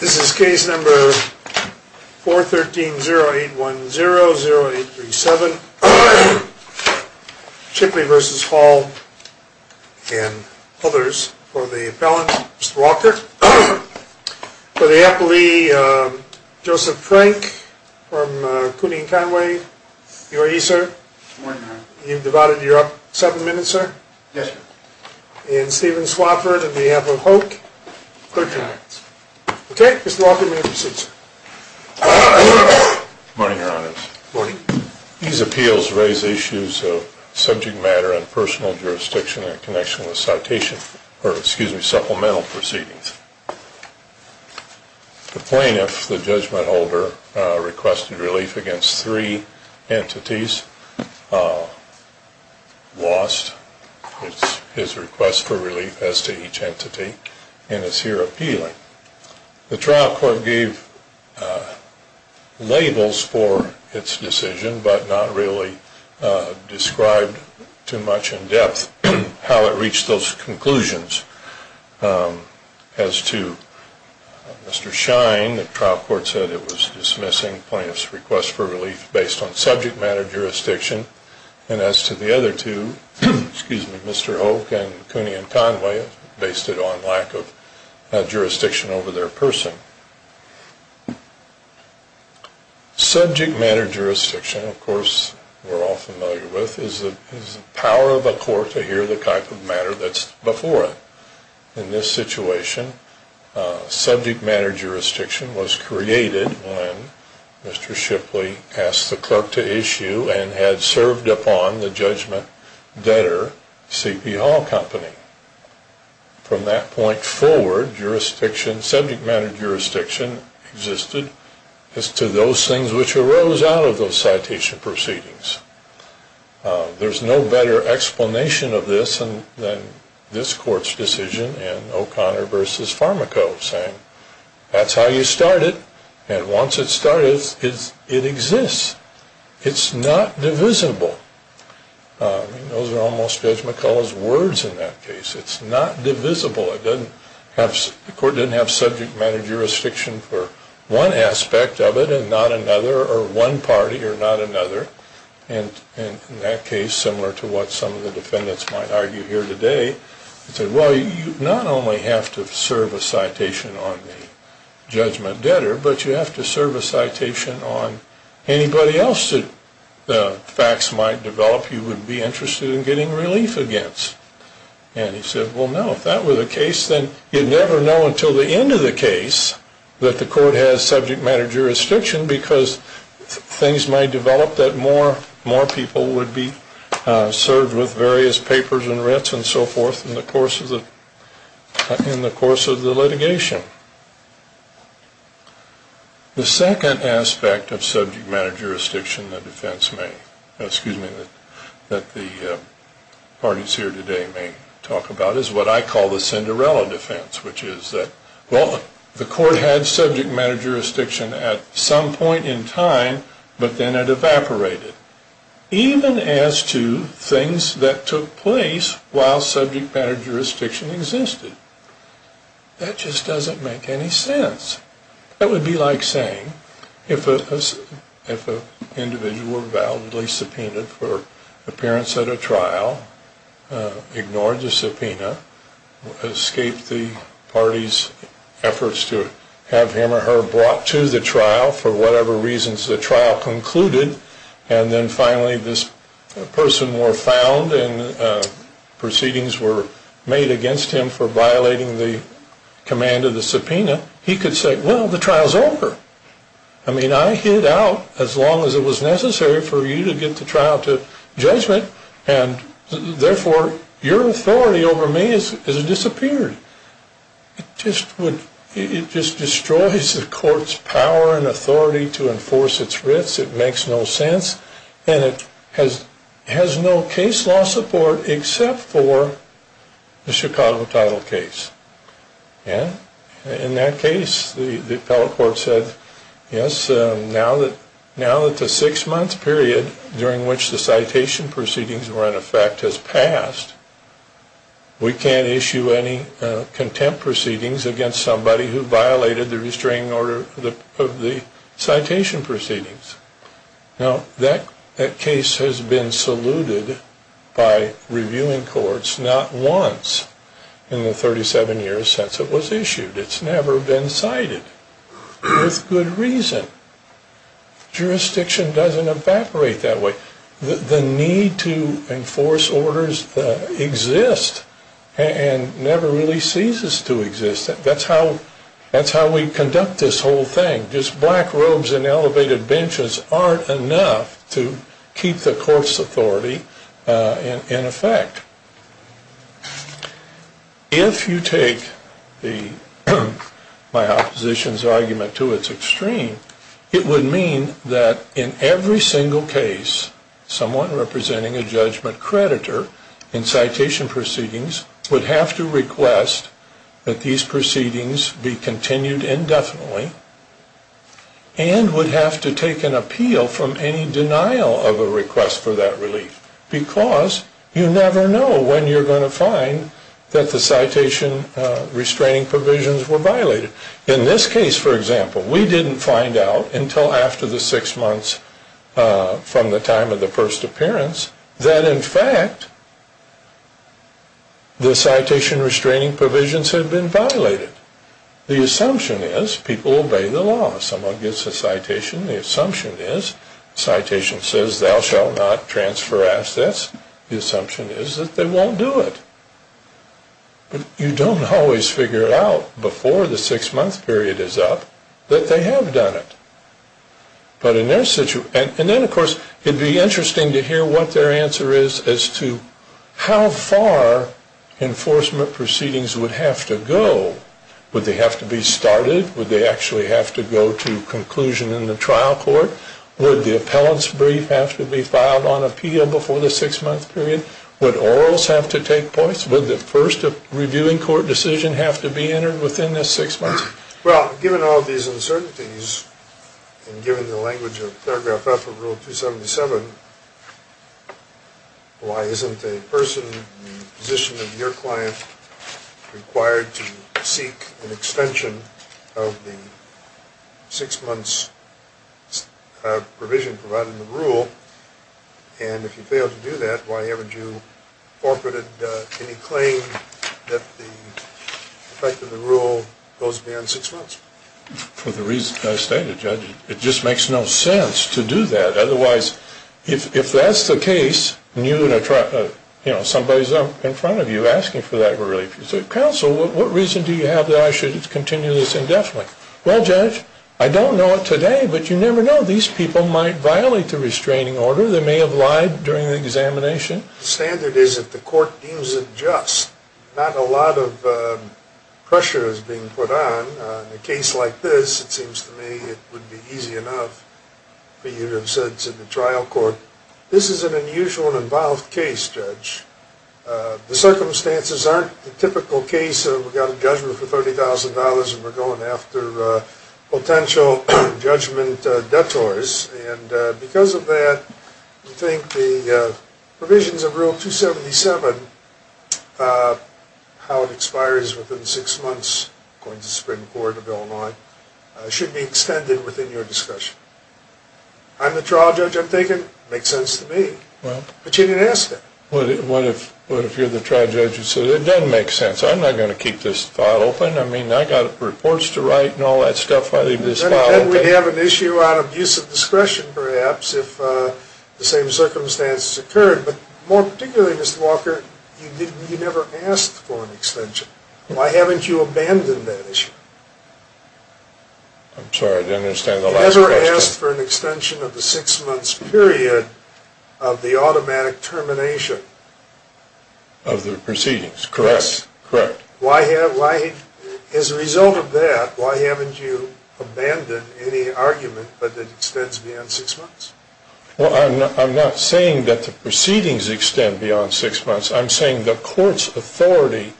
This is case number 413-0810-0837. Chipley v. Hall and others. For the appellant, Mr. Walker. For the appellee, Joseph Frank from Cooney & Conway. You are he, sir? Morning, Howard. You've devoted your seven minutes, sir? Yes, sir. And Stephen Swafford on behalf of Hoke, good times. Okay, Mr. Walker, you may proceed, sir. Morning, your honors. Morning. These appeals raise issues of subject matter and personal jurisdiction in connection with citation, or excuse me, supplemental proceedings. The plaintiff, the judgment holder, requested relief against three entities, lost his request for relief as to each entity, and is here appealing. The trial court gave labels for its decision, but not really described too much in depth how it reached those conclusions. As to Mr. Shine, the trial court said it was dismissing plaintiff's request for relief based on subject matter jurisdiction. And as to the other two, excuse me, Mr. Hoke and Cooney & Conway, based it on lack of jurisdiction over their person. Subject matter jurisdiction, of course, we're all familiar with, is the power of a court to hear the type of matter that's before it. In this situation, subject matter jurisdiction was created when Mr. Shipley asked the clerk to issue and had served upon the judgment debtor, C.P. Hall Company. From that point forward, jurisdiction, subject matter jurisdiction existed as to those things which arose out of those citation proceedings. There's no better explanation of this than this court's decision in O'Connor v. Farmaco, saying that's how you start it, and once it starts, it exists. It's not divisible. Those are almost Judge McCullough's words in that case. It's not divisible. The court didn't have subject matter jurisdiction for one aspect of it and not another, or one party or not another. And in that case, similar to what some of the defendants might argue here today, it said, well, you not only have to serve a citation on the judgment debtor, but you have to serve a citation on anybody else that the facts might develop you would be interested in getting relief against. And he said, well, no, if that were the case, then you'd never know until the end of the case that the court has subject matter jurisdiction because things might develop that more people would be served with various papers and writs and so forth in the course of the litigation. The second aspect of subject matter jurisdiction that the parties here today may talk about is what I call the Cinderella defense, which is that, well, the court had subject matter jurisdiction at some point in time, but then it evaporated, even as to things that took place while subject matter jurisdiction existed. That just doesn't make any sense. That would be like saying if an individual were validly subpoenaed for appearance at a trial, ignored the subpoena, escaped the party's efforts to have him or her brought to the trial for whatever reasons the trial concluded, and then finally this person were found and proceedings were made against him for violating the command of the subpoena, he could say, well, the trial's over. I mean, I hid out as long as it was necessary for you to get the trial to judgment, and therefore your authority over me has disappeared. It just destroys the court's power and authority to enforce its writs. It makes no sense, and it has no case law support except for the Chicago title case. In that case, the appellate court said, yes, now that the six-month period during which the citation proceedings were in effect has passed, we can't issue any contempt proceedings against somebody who violated the restraining order of the citation proceedings. Now, that case has been saluted by reviewing courts not once in the 37 years since it was issued. It's never been cited with good reason. Jurisdiction doesn't evaporate that way. The need to enforce orders exists and never really ceases to exist. That's how we conduct this whole thing. Just black robes and elevated benches aren't enough to keep the court's authority in effect. If you take my opposition's argument to its extreme, it would mean that in every single case someone representing a judgment creditor in citation proceedings would have to request that these proceedings be continued indefinitely and would have to take an appeal from any denial of a request for that relief because you never know when you're going to find that the citation restraining provisions were violated. In this case, for example, we didn't find out until after the six months from the time of the first appearance that in fact the citation restraining provisions had been violated. The assumption is people obey the law. If someone gets a citation, the assumption is the citation says thou shall not transfer assets. The assumption is that they won't do it. But you don't always figure it out before the six-month period is up that they have done it. And then, of course, it would be interesting to hear what their answer is as to how far enforcement proceedings would have to go. Would they have to be started? Would they actually have to go to conclusion in the trial court? Would the appellant's brief have to be filed on appeal before the six-month period? Would orals have to take place? Would the first reviewing court decision have to be entered within the six months? Well, given all these uncertainties and given the language of paragraph F of Rule 277, why isn't a person in the position of your client required to seek an extension of the six-months provision provided in the rule? And if you fail to do that, why haven't you incorporated any claim that the effect of the rule goes beyond six months? For the reason I stated, Judge, it just makes no sense to do that. Otherwise, if that's the case, somebody's up in front of you asking for that relief. You say, Counsel, what reason do you have that I should continue this indefinitely? Well, Judge, I don't know it today, but you never know. These people might violate the restraining order. They may have lied during the examination. The standard is if the court deems it just. Not a lot of pressure is being put on. In a case like this, it seems to me it would be easy enough for you to have said to the trial court, this is an unusual and involved case, Judge. The circumstances aren't the typical case of we've got a judgment for $30,000 and we're going after potential judgment detours. Because of that, we think the provisions of Rule 277, how it expires within six months, according to the Supreme Court of Illinois, should be extended within your discussion. I'm the trial judge, I'm thinking it makes sense to me. But you didn't ask that. What if you're the trial judge who said it doesn't make sense? I'm not going to keep this file open. I mean, I've got reports to write and all that stuff. Then we'd have an issue out of use of discretion, perhaps, if the same circumstances occurred. But more particularly, Mr. Walker, you never asked for an extension. Why haven't you abandoned that issue? I'm sorry, I didn't understand the last question. You never asked for an extension of the six-month period of the automatic termination. Of the proceedings, correct. As a result of that, why haven't you abandoned any argument that it extends beyond six months? I'm not saying that the proceedings extend beyond six months. I'm saying the court's authority,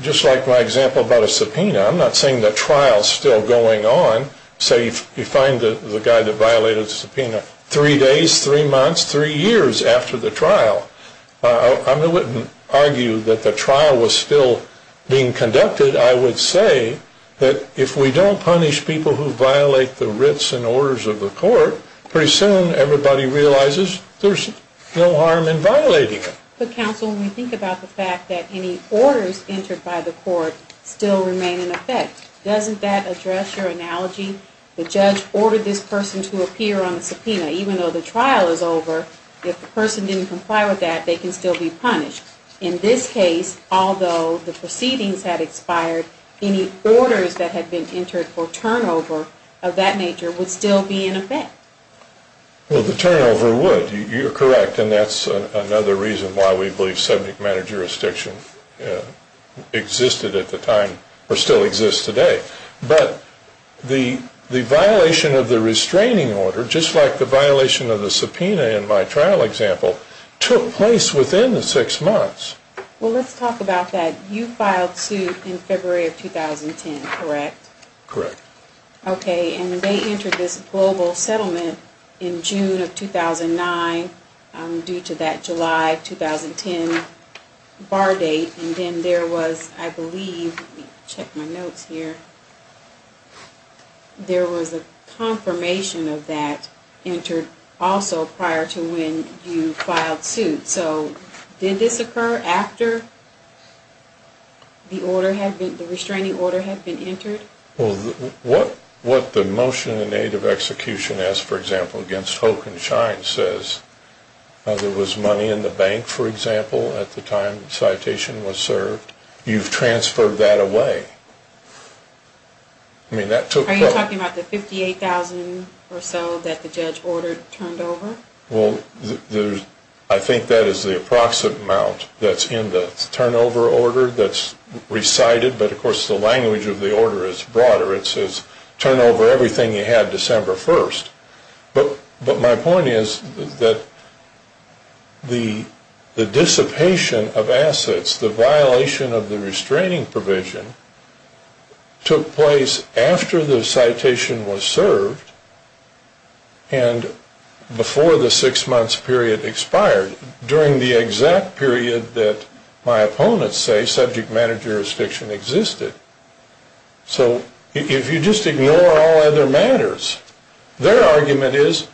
just like my example about a subpoena, I'm not saying the trial's still going on. Say you find the guy that violated the subpoena three days, three months, three years after the trial. I wouldn't argue that the trial was still being conducted. I would say that if we don't punish people who violate the writs and orders of the court, pretty soon everybody realizes there's no harm in violating it. But, counsel, when we think about the fact that any orders entered by the court still remain in effect, doesn't that address your analogy? The judge ordered this person to appear on the subpoena. Even though the trial is over, if the person didn't comply with that, they can still be punished. In this case, although the proceedings had expired, any orders that had been entered for turnover of that nature would still be in effect. Well, the turnover would. You're correct, and that's another reason why we believe subject matter jurisdiction existed at the time, or still exists today. But the violation of the restraining order, just like the violation of the subpoena in my trial example, took place within the six months. Well, let's talk about that. You filed suit in February of 2010, correct? Correct. Okay, and they entered this global settlement in June of 2009 due to that July 2010 bar date, and then there was, I believe, let me check my notes here, there was a confirmation of that entered also prior to when you filed suit. So did this occur after the restraining order had been entered? Well, what the motion in aid of execution as, for example, against Hoke and Shine says, there was money in the bank, for example, at the time the citation was served. You've transferred that away. Are you talking about the $58,000 or so that the judge ordered turned over? Well, I think that is the approximate amount that's in the turnover order that's recited, but of course the language of the order is broader. It says, turn over everything you had December 1st. But my point is that the dissipation of assets, the violation of the restraining provision, took place after the citation was served and before the six months period expired, during the exact period that my opponents say subject matter jurisdiction existed. So if you just ignore all other matters, their argument is,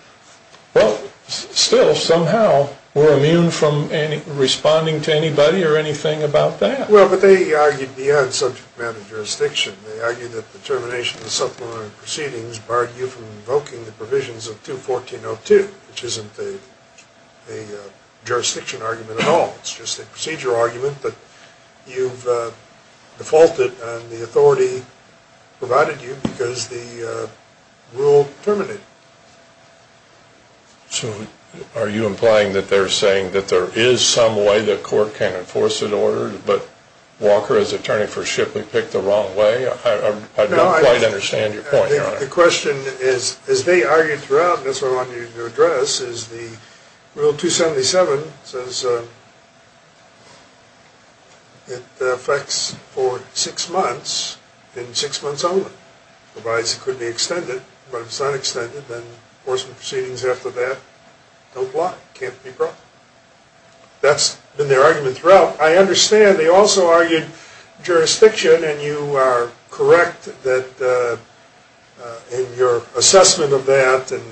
well, still somehow we're immune from responding to anybody or anything about that. Well, but they argued beyond subject matter jurisdiction. They argued that the termination of the supplemental proceedings barred you from invoking the provisions of 214.02, which isn't a jurisdiction argument at all. It's just a procedure argument, but you've defaulted, and the authority provided you because the rule terminated. So are you implying that they're saying that there is some way the court can enforce an order, but Walker, as attorney for Shipley, picked the wrong way? I don't quite understand your point, Your Honor. The question is, as they argued throughout, and that's what I wanted you to address, is the Rule 277 says it affects for six months and six months only. It provides it could be extended, but if it's not extended, then enforcement proceedings after that don't block, can't be brought. That's been their argument throughout. I understand they also argued jurisdiction, and you are correct in your assessment of that and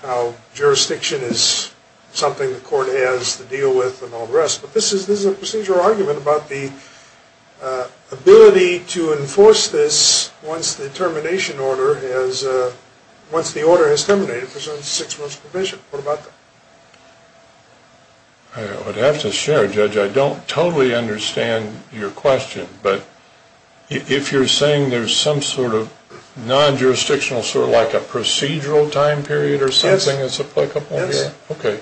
how jurisdiction is something the court has to deal with and all the rest, but this is a procedural argument about the ability to enforce this once the termination order has, once the order has terminated, presents six months provision. What about that? I would have to share, Judge. I don't totally understand your question, but if you're saying there's some sort of non-jurisdictional, sort of like a procedural time period or something that's applicable? Yes. Okay.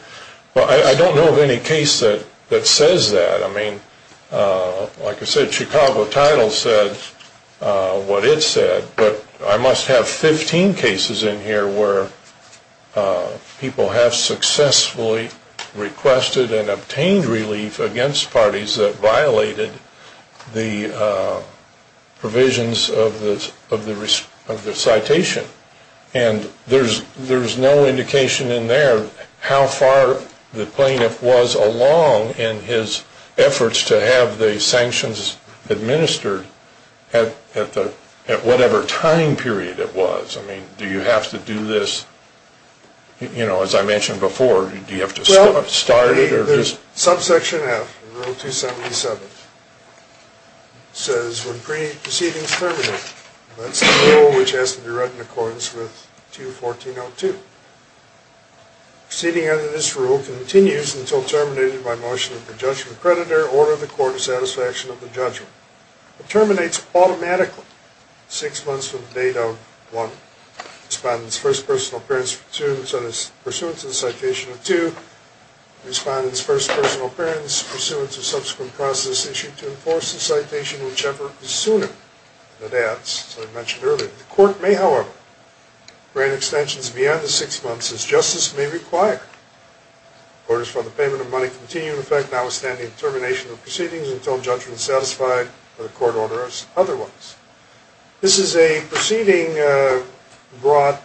Well, I don't know of any case that says that. I mean, like I said, Chicago Title said what it said, but I must have 15 cases in here where people have successfully requested and obtained relief against parties that violated the provisions of the citation, and there's no indication in there how far the plaintiff was along in his efforts to have the sanctions administered at whatever time period it was. I mean, do you have to do this, you know, as I mentioned before, do you have to start it? Subsection F, Rule 277, says when pre-proceedings terminate, that's the rule which has to be read in accordance with 2.1402. Proceeding under this rule continues until terminated by motion of the judgment creditor or the court of satisfaction of the judgment. It terminates automatically six months from the date of one respondent's first personal appearance pursuant to the citation of 2. Respondent's first personal appearance pursuant to subsequent process issued to enforce the citation, whichever is sooner. That adds, as I mentioned earlier. The court may, however, grant extensions beyond the six months as justice may require. Orders for the payment of money continue in effect now withstanding termination of proceedings until judgment is satisfied by the court order as otherwise. This is a proceeding brought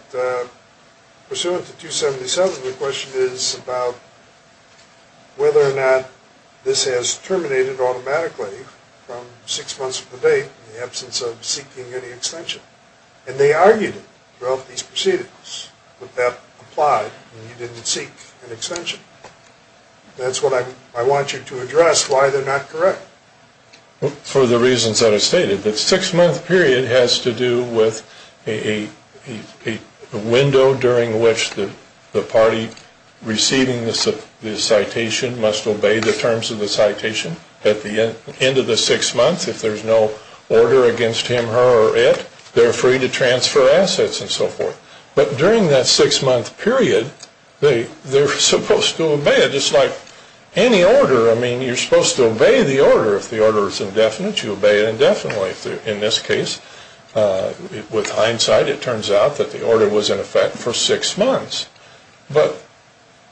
pursuant to 277. The question is about whether or not this has terminated automatically from six months of the date in the absence of seeking any extension. And they argued it throughout these proceedings that that applied and you didn't seek an extension. That's what I want you to address, why they're not correct. For the reasons that I stated. The six-month period has to do with a window during which the party receiving the citation must obey the terms of the citation. At the end of the six months, if there's no order against him, her, or it, they're free to transfer assets and so forth. But during that six-month period, they're supposed to obey it. Just like any order, I mean, you're supposed to obey the order. If the order is indefinite, you obey it indefinitely. In this case, with hindsight, it turns out that the order was in effect for six months. But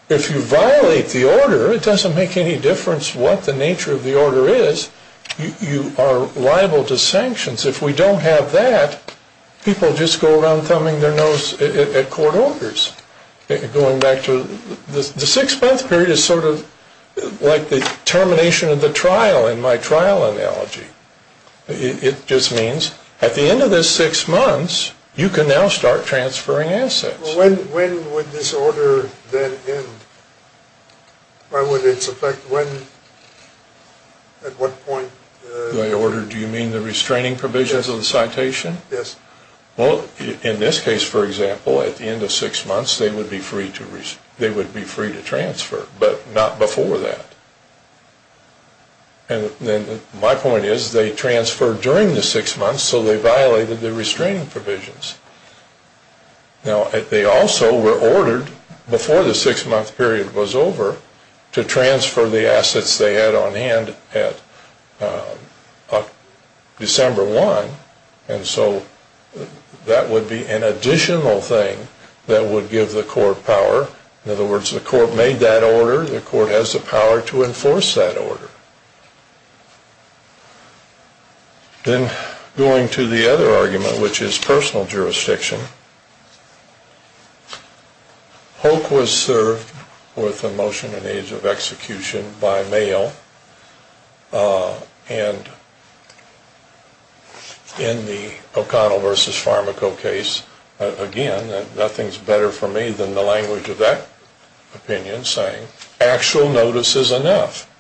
if you violate the order, it doesn't make any difference what the nature of the order is. You are liable to sanctions. If we don't have that, people just go around thumbing their nose at court orders. Going back to the six-month period is sort of like the termination of the trial in my trial analogy. It just means at the end of the six months, you can now start transferring assets. When would this order then end? What would its effect when? At what point? By order, do you mean the restraining provisions of the citation? Yes. Well, in this case, for example, at the end of six months, they would be free to transfer, but not before that. My point is they transferred during the six months, so they violated the restraining provisions. Now, they also were ordered before the six-month period was over to transfer the assets they had on hand at December 1. And so that would be an additional thing that would give the court power. In other words, the court made that order. The court has the power to enforce that order. Then going to the other argument, which is personal jurisdiction. Hoke was served with a motion in the age of execution by mail. And in the O'Connell v. Farmaco case, again, nothing is better for me than the language of that opinion saying actual notice is enough.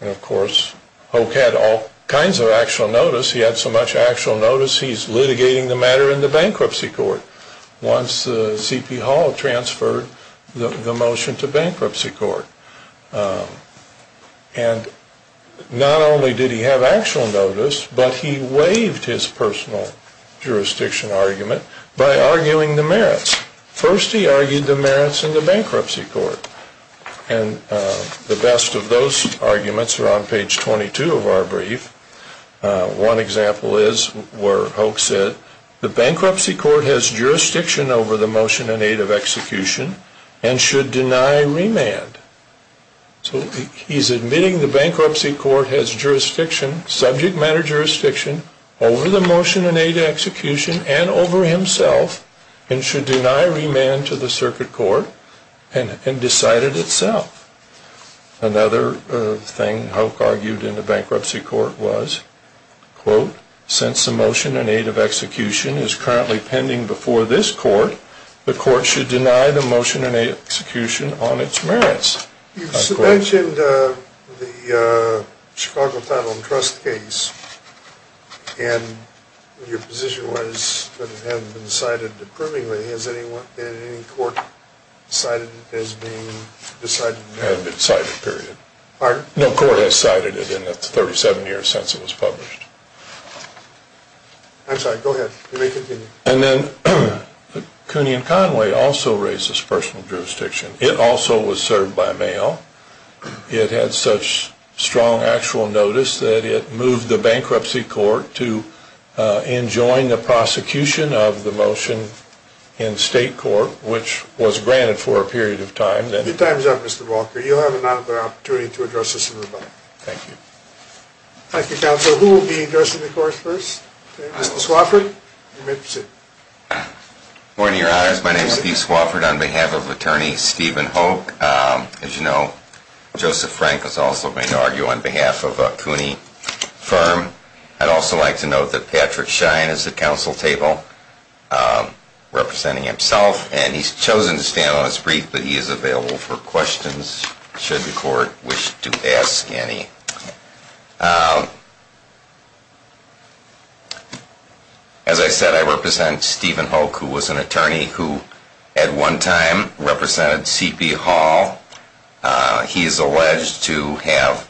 And, of course, Hoke had all kinds of actual notice. He had so much actual notice, he's litigating the matter in the bankruptcy. Once C.P. Hall transferred the motion to bankruptcy court. And not only did he have actual notice, but he waived his personal jurisdiction argument by arguing the merits. First, he argued the merits in the bankruptcy court. And the best of those arguments are on page 22 of our brief. One example is where Hoke said the bankruptcy court has jurisdiction over the motion in aid of execution and should deny remand. So he's admitting the bankruptcy court has jurisdiction, subject matter jurisdiction, over the motion in aid of execution and over himself. And should deny remand to the circuit court and decide it itself. Another thing Hoke argued in the bankruptcy court was, quote, since the motion in aid of execution is currently pending before this court, the court should deny the motion in aid of execution on its merits. You mentioned the Chicago Title and Trust case. And your position was that it hadn't been cited approvingly. Has any court cited it as being decided? Hadn't been cited, period. Pardon? No court has cited it in the 37 years since it was published. I'm sorry, go ahead. You may continue. And then Cooney and Conway also raised this personal jurisdiction. It also was served by mail. It had such strong actual notice that it moved the bankruptcy court to enjoin the prosecution of the motion in state court, which was granted for a period of time. Your time is up, Mr. Walker. You'll have another opportunity to address this in rebuttal. Thank you. Thank you, counsel. Who will be addressing the court first? Mr. Swafford? You may proceed. Good morning, your honors. My name is Steve Swafford on behalf of attorney Stephen Hoke. As you know, Joseph Frank was also going to argue on behalf of a Cooney firm. I'd also like to note that Patrick Schein is at counsel table representing himself, and he's chosen to stand on his brief, but he is available for questions should the court wish to ask any. As I said, I represent Stephen Hoke, who was an attorney who at one time represented C.P. Hall. He is alleged to have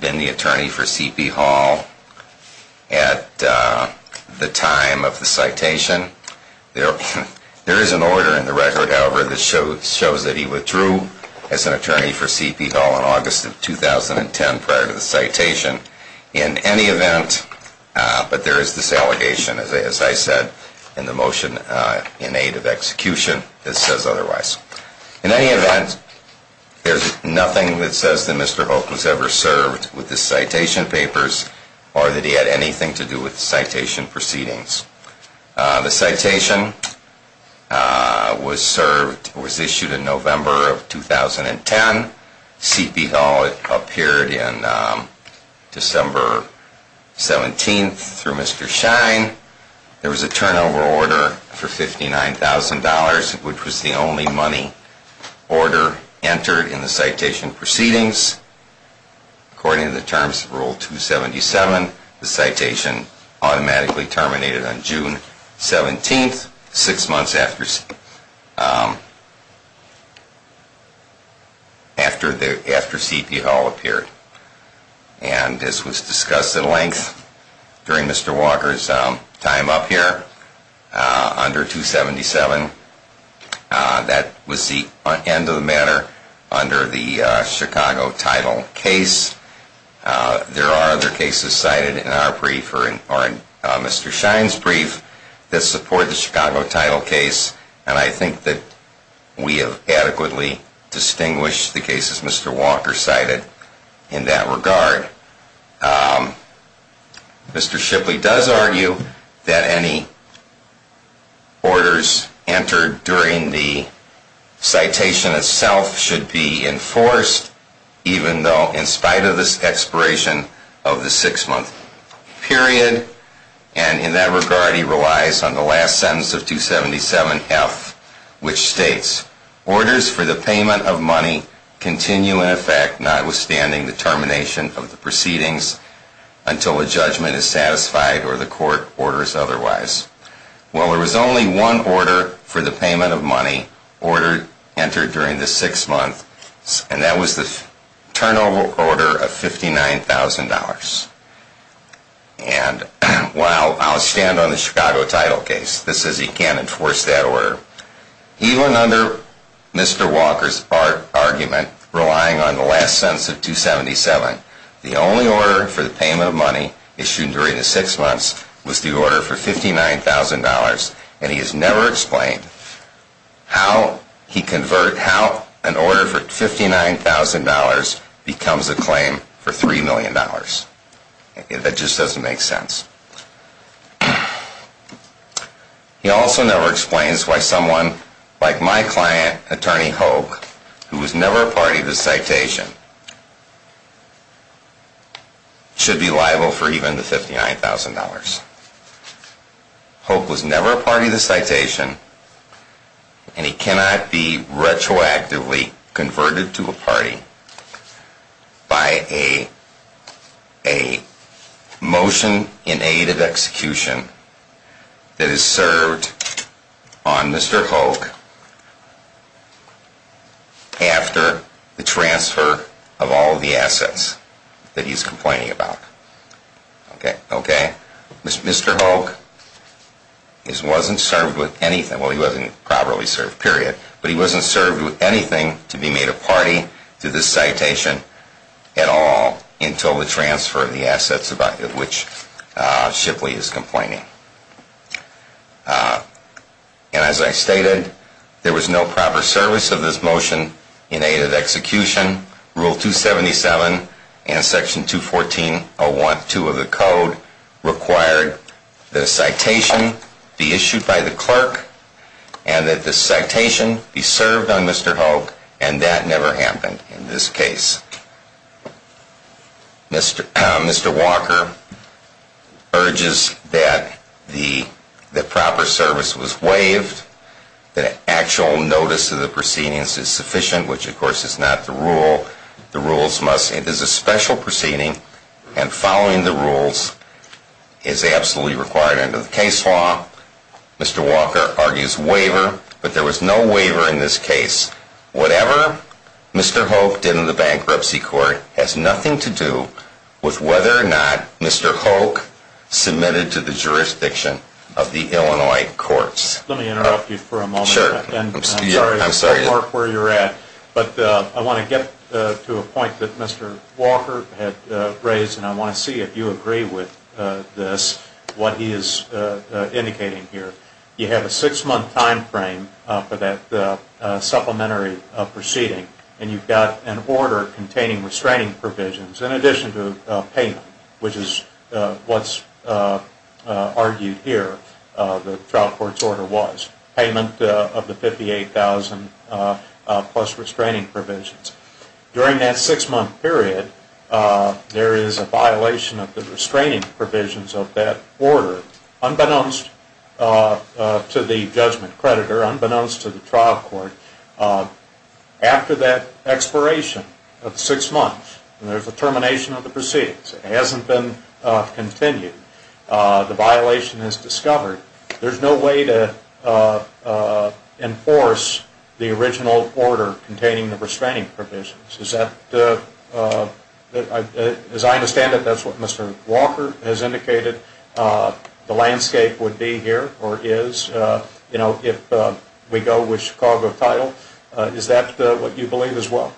been the attorney for C.P. Hall at the time of the citation. There is an order in the record, however, that shows that he withdrew as an attorney for C.P. Hall in August of 2010 prior to the citation. In any event, but there is this allegation, as I said, in the motion in aid of execution that says otherwise. In any event, there's nothing that says that Mr. Hoke was ever served with the citation papers or that he had anything to do with the citation proceedings. The citation was issued in November of 2010. C.P. Hall appeared on December 17th through Mr. Schein. There was a turnover order for $59,000, which was the only money order entered in the citation proceedings. According to the terms of Rule 277, the citation automatically terminated on June 17th, six months after C.P. Hall appeared. And this was discussed at length during Mr. Walker's time up here under 277. That was the end of the matter under the Chicago title case. There are other cases cited in our brief or in Mr. Schein's brief that support the Chicago title case, and I think that we have adequately distinguished the cases Mr. Walker cited in that regard. Mr. Shipley does argue that any orders entered during the citation itself should be enforced, even though in spite of this expiration of the six-month period. And in that regard, he relies on the last sentence of 277F, which states, Orders for the payment of money continue in effect, notwithstanding the termination of the proceedings, until a judgment is satisfied or the court orders otherwise. Well, there was only one order for the payment of money entered during the six months, and that was the turnover order of $59,000. And while I'll stand on the Chicago title case, this says he can't enforce that order. Even under Mr. Walker's argument, relying on the last sentence of 277, the only order for the payment of money issued during the six months was the order for $59,000, and he has never explained how an order for $59,000 becomes a claim for $3 million. That just doesn't make sense. He also never explains why someone like my client, attorney Hoke, who was never a party to the citation, should be liable for even the $59,000. Hoke was never a party to the citation, and he cannot be retroactively converted to a party by a motion in aid of execution that is served on Mr. Hoke after the transfer of all the assets that he's complaining about. Mr. Hoke wasn't served with anything. Well, he wasn't properly served, period. But he wasn't served with anything to be made a party to this citation at all until the transfer of the assets about which Shipley is complaining. And as I stated, there was no proper service of this motion in aid of execution. Rule 277 and Section 214.01.2 of the Code required that a citation be issued by the clerk and that the citation be served on Mr. Hoke, and that never happened in this case. Mr. Walker urges that the proper service was waived, that actual notice of the proceedings is sufficient, which of course is not the rule. The rules must, it is a special proceeding, and following the rules is absolutely required under the case law. Mr. Walker argues waiver, but there was no waiver in this case. Whatever Mr. Hoke did in the bankruptcy court has nothing to do with whether or not Mr. Hoke submitted to the jurisdiction of the Illinois courts. Let me interrupt you for a moment. Sure. I'm sorry to interrupt where you're at, but I want to get to a point that Mr. Walker had raised, and I want to see if you agree with this, what he is indicating here. You have a six-month time frame for that supplementary proceeding, and you've got an order containing restraining provisions in addition to payment, which is what's argued here, the trial court's order was. Payment of the $58,000 plus restraining provisions. During that six-month period, there is a violation of the restraining provisions of that order, unbeknownst to the judgment creditor, unbeknownst to the trial court. After that expiration of six months, and there's a termination of the proceedings, it hasn't been continued, the violation is discovered. There's no way to enforce the original order containing the restraining provisions. As I understand it, that's what Mr. Walker has indicated the landscape would be here, or is, if we go with Chicago title. Is that what you believe as well?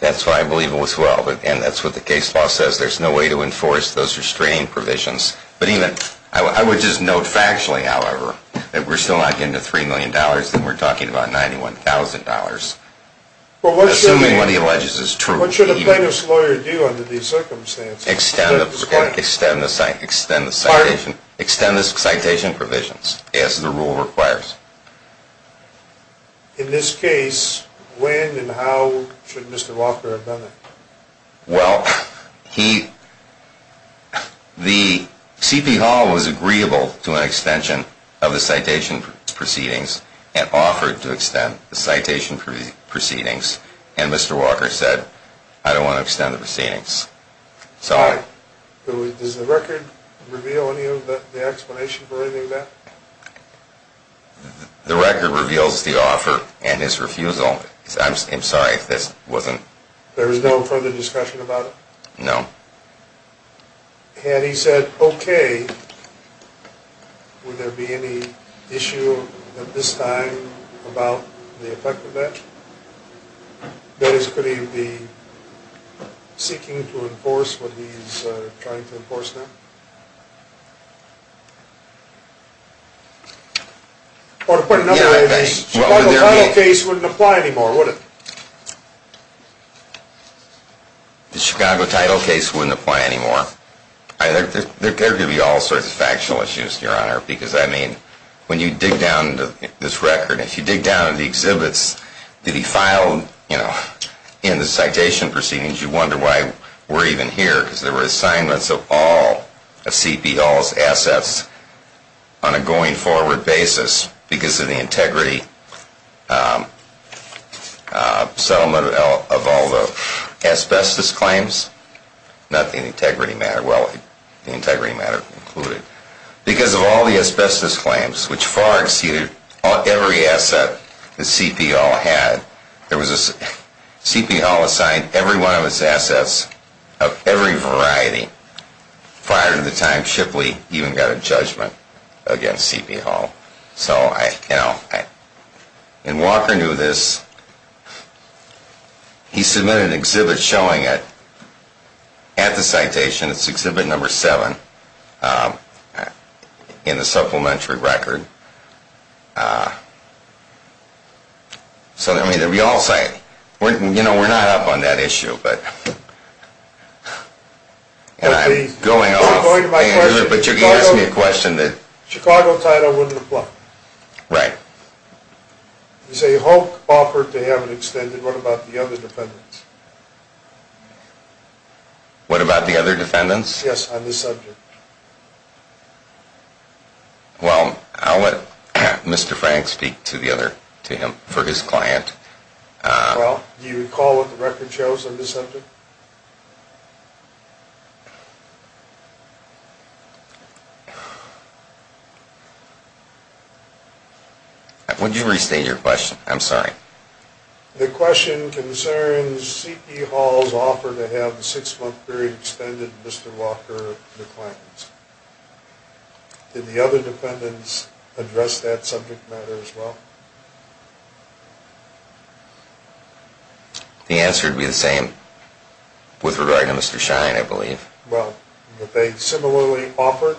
That's what I believe as well, and that's what the case law says. There's no way to enforce those restraining provisions. I would just note factually, however, that we're still not getting to $3 million, and we're talking about $91,000. Assuming what he alleges is true. What should a plaintiff's lawyer do under these circumstances? Extend the citation provisions as the rule requires. In this case, when and how should Mr. Walker have done it? Well, the C.P. Hall was agreeable to an extension of the citation proceedings and offered to extend the citation proceedings, and Mr. Walker said, I don't want to extend the proceedings. Does the record reveal any of the explanation for any of that? The record reveals the offer and his refusal. I'm sorry, this wasn't? There was no further discussion about it? No. Had he said okay, would there be any issue at this time about the effect of that? That is, could he be seeking to enforce what he's trying to enforce now? Or to put it another way, the Chicago title case wouldn't apply anymore, would it? The Chicago title case wouldn't apply anymore. There could be all sorts of factional issues, Your Honor, because when you dig down into this record, if you dig down into the exhibits that he filed in the citation proceedings, you wonder why we're even here, because there were assignments of all of C.P. Hall's assets on a going-forward basis because of the integrity settlement of all the asbestos claims. Not the integrity matter. Well, the integrity matter included. Because of all the asbestos claims, which far exceeded every asset that C.P. Hall had, C.P. Hall assigned every one of his assets of every variety prior to the time Shipley even got a judgment against C.P. Hall. So, you know, and Walker knew this. He submitted an exhibit showing it at the citation. It's exhibit number seven in the supplementary record. So, I mean, we all say, you know, we're not up on that issue. But I'm going off, Andrew, but you can ask me a question. The Chicago title wouldn't apply. Right. You say Hulk offered to have it extended. What about the other defendants? What about the other defendants? Yes, on this subject. Well, I'll let Mr. Frank speak to the other, to him, for his client. Well, do you recall what the record shows on this subject? Would you restate your question? I'm sorry. The question concerns C.P. Hall's offer to have the six-month period extended Mr. Walker declines. Did the other defendants address that subject matter as well? The answer would be the same with regard to Mr. Shine, I believe. Well, would they similarly offer?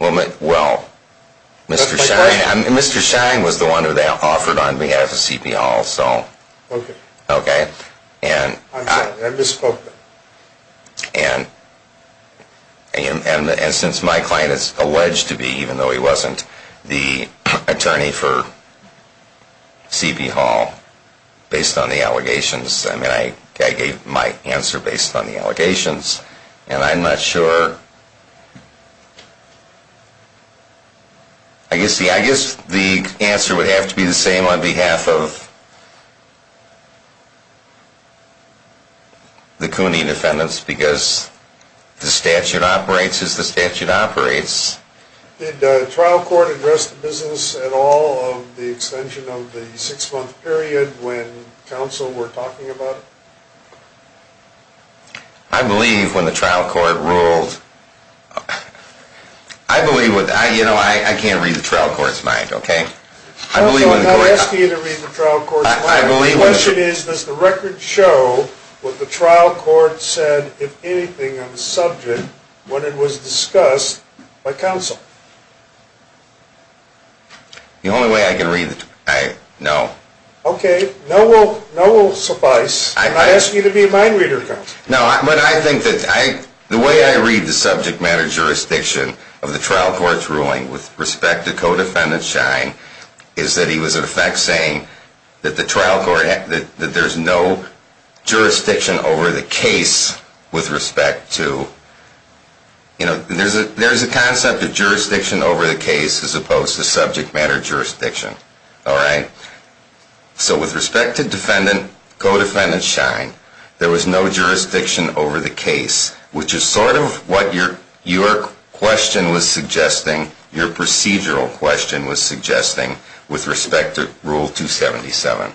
Well, Mr. Shine was the one who they offered on behalf of C.P. Hall. Okay. Okay. I'm sorry. I misspoke there. And since my client is alleged to be, even though he wasn't, the attorney for C.P. Hall, based on the allegations, I mean, I gave my answer based on the allegations, and I'm not sure. I guess the answer would have to be the same on behalf of the Cooney defendants, because the statute operates as the statute operates. Did the trial court address the business at all of the extension of the six-month period when counsel were talking about it? I believe when the trial court ruled. I believe, you know, I can't read the trial court's mind, okay? Counsel, I'm not asking you to read the trial court's mind. The question is, does the record show what the trial court said, if anything, on the subject when it was discussed by counsel? The only way I can read, no. Okay. No will suffice. I ask you to be a mind reader, counsel. No, but I think that the way I read the subject matter jurisdiction of the trial court's ruling with respect to co-defendant Schein is that he was in effect saying that the trial court, that there's no jurisdiction over the case with respect to, you know, there's a concept of jurisdiction over the case as opposed to subject matter jurisdiction, all right? So with respect to defendant, co-defendant Schein, there was no jurisdiction over the case, which is sort of what your question was suggesting, your procedural question was suggesting with respect to Rule 277.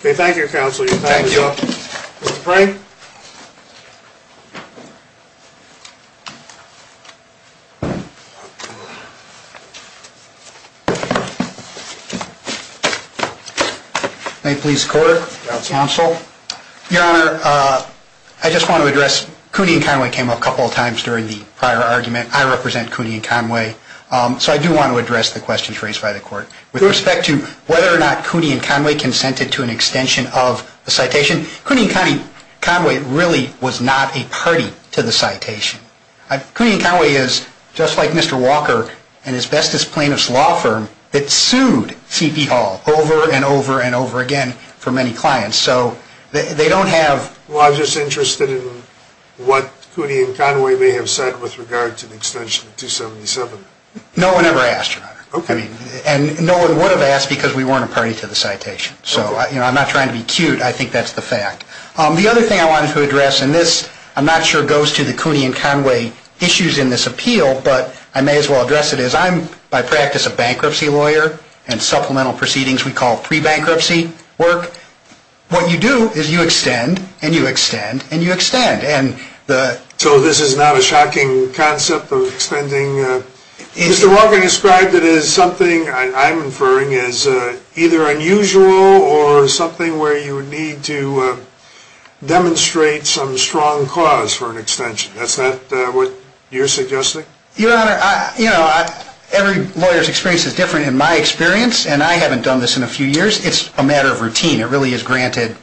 Okay, thank you, counsel. Thank you. Mr. Frank? May it please the court, counsel? Your Honor, I just want to address, Cooney and Conway came up a couple of times during the prior argument. I represent Cooney and Conway, so I do want to address the questions raised by the court. With respect to whether or not Cooney and Conway consented to an extension of the citation, Cooney and Conway really was not a party to the citation. Cooney and Conway is, just like Mr. Walker and his bestest plaintiff's law firm, that sued C.P. Hall over and over and over again for many clients. So they don't have. Well, I'm just interested in what Cooney and Conway may have said with regard to the extension of 277. No one ever asked, Your Honor. Okay. And no one would have asked because we weren't a party to the citation. Okay. So, you know, I'm not trying to be cute. I think that's the fact. The other thing I wanted to address, and this I'm not sure goes to the Cooney and Conway issues in this appeal, but I may as well address it, is I'm by practice a bankruptcy lawyer and supplemental proceedings we call pre-bankruptcy work. What you do is you extend and you extend and you extend. So this is not a shocking concept of extending. Mr. Walker described it as something I'm inferring as either unusual or something where you need to demonstrate some strong cause for an extension. Is that what you're suggesting? Your Honor, you know, every lawyer's experience is different in my experience, and I haven't done this in a few years. It's a matter of routine. It really is granted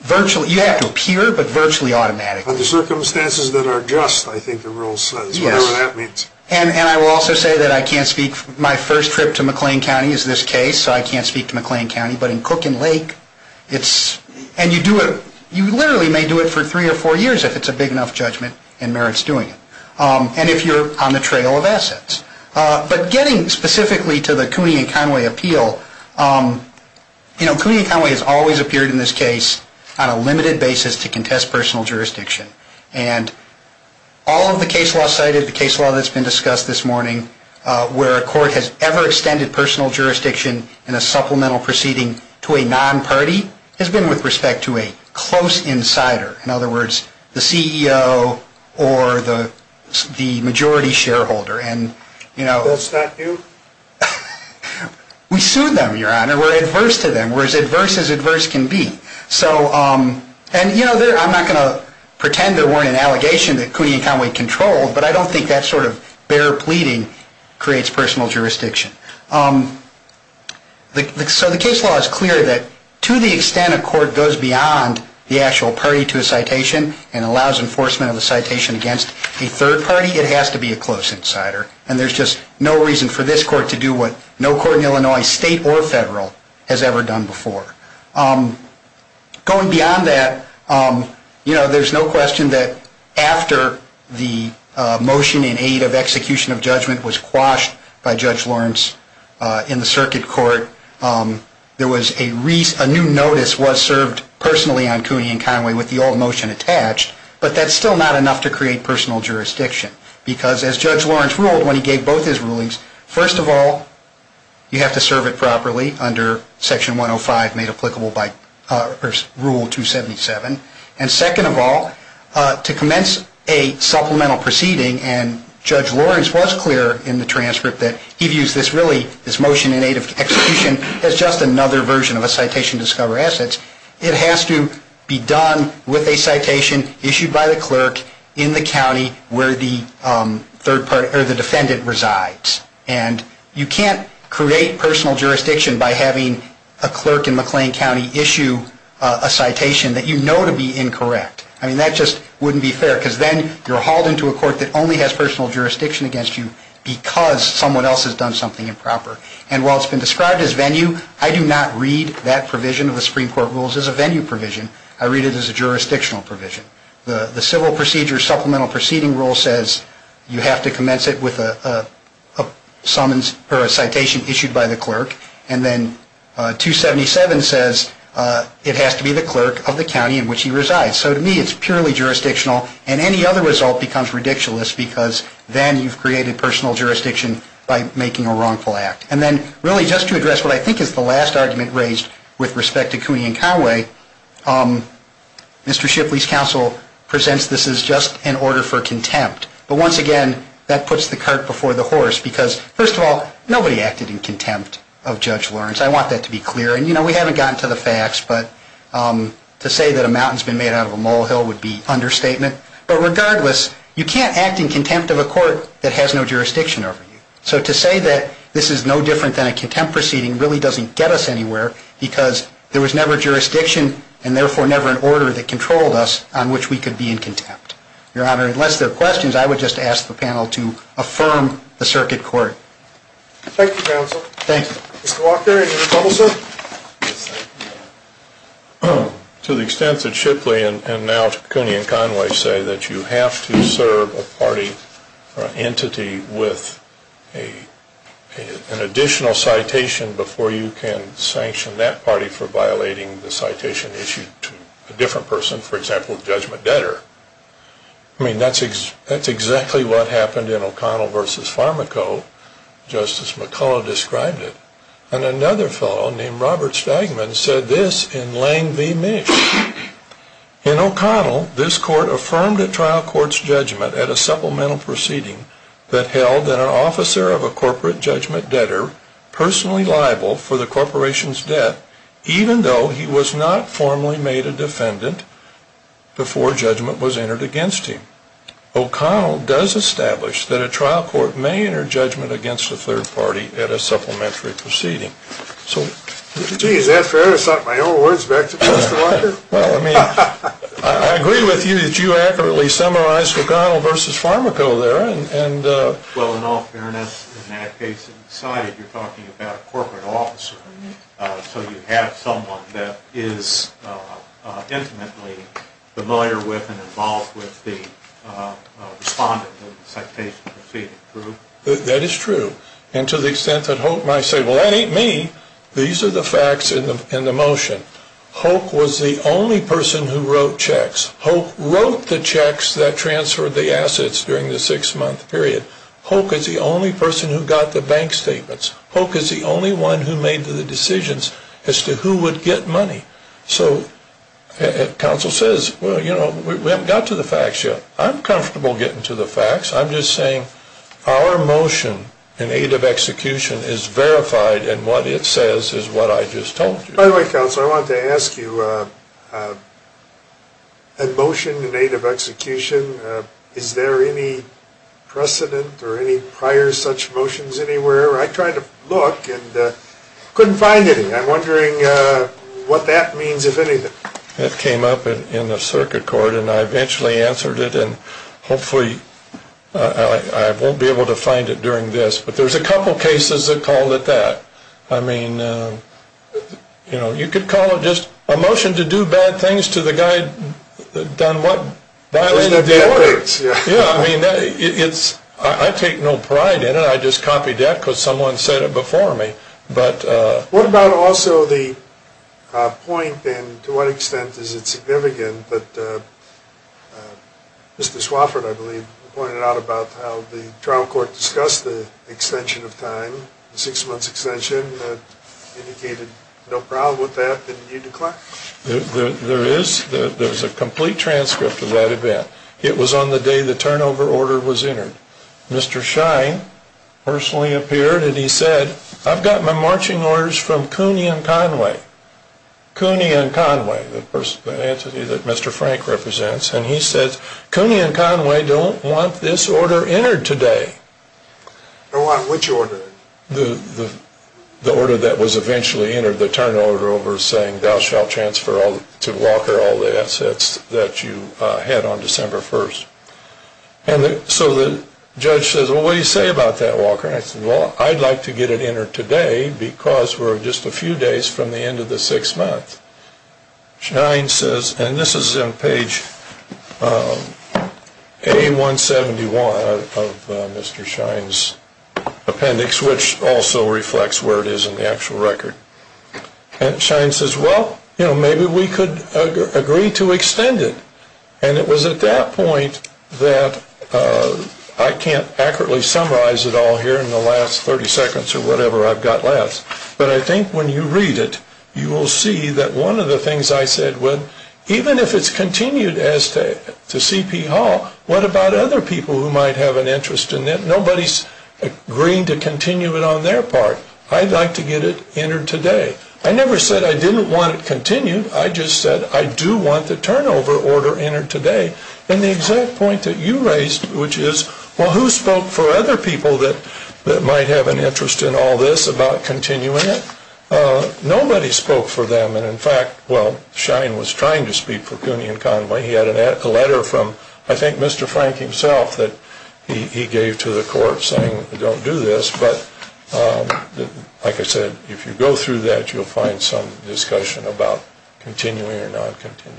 virtually. You have to appear, but virtually automatically. Under circumstances that are just, I think the rule says. Yes. Whatever that means. And I will also say that I can't speak, my first trip to McLean County is this case, so I can't speak to McLean County. But in Cook and Lake, it's, and you do it, you literally may do it for three or four years if it's a big enough judgment and merit's doing it. And if you're on the trail of assets. But getting specifically to the Cooney and Conway appeal, you know, Cooney and Conway has always appeared in this case on a limited basis to contest personal jurisdiction. And all of the case law cited, the case law that's been discussed this morning, where a court has ever extended personal jurisdiction in a supplemental proceeding to a non-party, has been with respect to a close insider. In other words, the CEO or the majority shareholder. And, you know. That's not new? We sue them, Your Honor. We're adverse to them. We're as adverse as adverse can be. So, and, you know, I'm not going to pretend there weren't an allegation that Cooney and Conway controlled, but I don't think that sort of bare pleading creates personal jurisdiction. So the case law is clear that to the extent a court goes beyond the actual party to a citation and allows enforcement of the citation against a third party, it has to be a close insider. And there's just no reason for this court to do what no court in Illinois, state or federal, has ever done before. Going beyond that, you know, there's no question that after the motion in aid of execution of judgment was quashed by Judge Lawrence in the circuit court, there was a new notice was served personally on Cooney and Conway with the old motion attached, but that's still not enough to create personal jurisdiction. Because as Judge Lawrence ruled when he gave both his rulings, first of all, you have to serve it properly under Section 105 made applicable by Rule 277, and second of all, to commence a supplemental proceeding, and Judge Lawrence was clear in the transcript that he views this really, this motion in aid of execution, as just another version of a citation to discover assets, it has to be done with a citation issued by the clerk in the county where the defendant resides. And you can't create personal jurisdiction by having a clerk in McLean County issue a citation that you know to be incorrect. I mean, that just wouldn't be fair because then you're hauled into a court that only has personal jurisdiction against you because someone else has done something improper. And while it's been described as venue, I do not read that provision of the Supreme Court rules as a venue provision. I read it as a jurisdictional provision. The Civil Procedure Supplemental Proceeding Rule says you have to commence it with a summons or a citation issued by the clerk, and then 277 says it has to be the clerk of the county in which he resides. So to me, it's purely jurisdictional, and any other result becomes ridiculous because then you've created personal jurisdiction by making a wrongful act. And then really just to address what I think is the last argument raised with respect to Cooney and Conway, Mr. Shipley's counsel presents this as just an order for contempt. But once again, that puts the cart before the horse because, first of all, nobody acted in contempt of Judge Lawrence. I want that to be clear. And, you know, we haven't gotten to the facts, but to say that a mountain's been made out of a molehill would be understatement. But regardless, you can't act in contempt of a court that has no jurisdiction over you. So to say that this is no different than a contempt proceeding really doesn't get us anywhere because there was never jurisdiction and, therefore, never an order that controlled us on which we could be in contempt. Your Honor, unless there are questions, I would just ask the panel to affirm the circuit court. Thank you, counsel. Thank you. Mr. Walker, any more trouble, sir? To the extent that Shipley and now Cooney and Conway say that you have to serve a party or an entity with an additional citation before you can sanction that party for violating the citation issued to a different person, for example, a judgment debtor, I mean, that's exactly what happened in O'Connell v. Farmaco. Justice McCullough described it. And another fellow named Robert Stagman said this in Lane v. Misch. In O'Connell, this court affirmed a trial court's judgment at a supplemental proceeding that held that an officer of a corporate judgment debtor personally liable for the corporation's debt, even though he was not formally made a defendant before judgment was entered against him. O'Connell does establish that a trial court may enter judgment against a third party at a supplementary proceeding. Gee, is that fair to cite my own words back to Mr. Walker? Well, I mean, I agree with you that you accurately summarized O'Connell v. Farmaco there. Well, in all fairness, in that case it's decided you're talking about a corporate officer. So you have someone that is intimately familiar with and involved with the respondent of the citation proceeding, true? That is true. And to the extent that Hoek might say, well, that ain't me. These are the facts in the motion. Hoek was the only person who wrote checks. Hoek wrote the checks that transferred the assets during the six-month period. Hoek is the only person who got the bank statements. Hoek is the only one who made the decisions as to who would get money. So counsel says, well, you know, we haven't got to the facts yet. I'm comfortable getting to the facts. I'm just saying our motion in aid of execution is verified, and what it says is what I just told you. By the way, counsel, I wanted to ask you, a motion in aid of execution, is there any precedent or any prior such motions anywhere? I tried to look and couldn't find any. I'm wondering what that means, if anything. It came up in the circuit court, and I eventually answered it, and hopefully I won't be able to find it during this. But there's a couple cases that called it that. I mean, you know, you could call it just a motion to do bad things to the guy that done what? Violated the records. Yeah, I mean, I take no pride in it. I just copied that because someone said it before me. What about also the point, and to what extent is it significant, that Mr. Swafford, I believe, pointed out about how the trial court discussed the extension of time, the six-month extension, indicated no problem with that. Didn't you declare? There is a complete transcript of that event. It was on the day the turnover order was entered. Mr. Shine personally appeared, and he said, I've got my marching orders from Cooney and Conway. Cooney and Conway, the entity that Mr. Frank represents. And he said, Cooney and Conway don't want this order entered today. Don't want which order? The order that was eventually entered, the turnover order over saying, thou shalt transfer to Walker all the assets that you had on December 1st. And so the judge says, well, what do you say about that, Walker? And I said, well, I'd like to get it entered today because we're just a few days from the end of the six months. Shine says, and this is in page A171 of Mr. Shine's appendix, which also reflects where it is in the actual record. And Shine says, well, you know, maybe we could agree to extend it. And it was at that point that I can't accurately summarize it all here in the last 30 seconds or whatever I've got left. But I think when you read it, you will see that one of the things I said was, even if it's continued as to C.P. Hall, what about other people who might have an interest in it? Nobody's agreeing to continue it on their part. I'd like to get it entered today. I never said I didn't want it continued. I just said I do want the turnover order entered today. And the exact point that you raised, which is, well, who spoke for other people that might have an interest in all this about continuing it? Nobody spoke for them. And, in fact, well, Shine was trying to speak for CUNY and Conway. He had a letter from, I think, Mr. Frank himself that he gave to the court saying don't do this. But, like I said, if you go through that, you'll find some discussion about continuing or not continuing.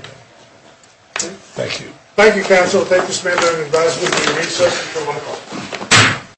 Thank you. Thank you, counsel. Thank you, Mr. Maynard. I advise you to recess and come on call.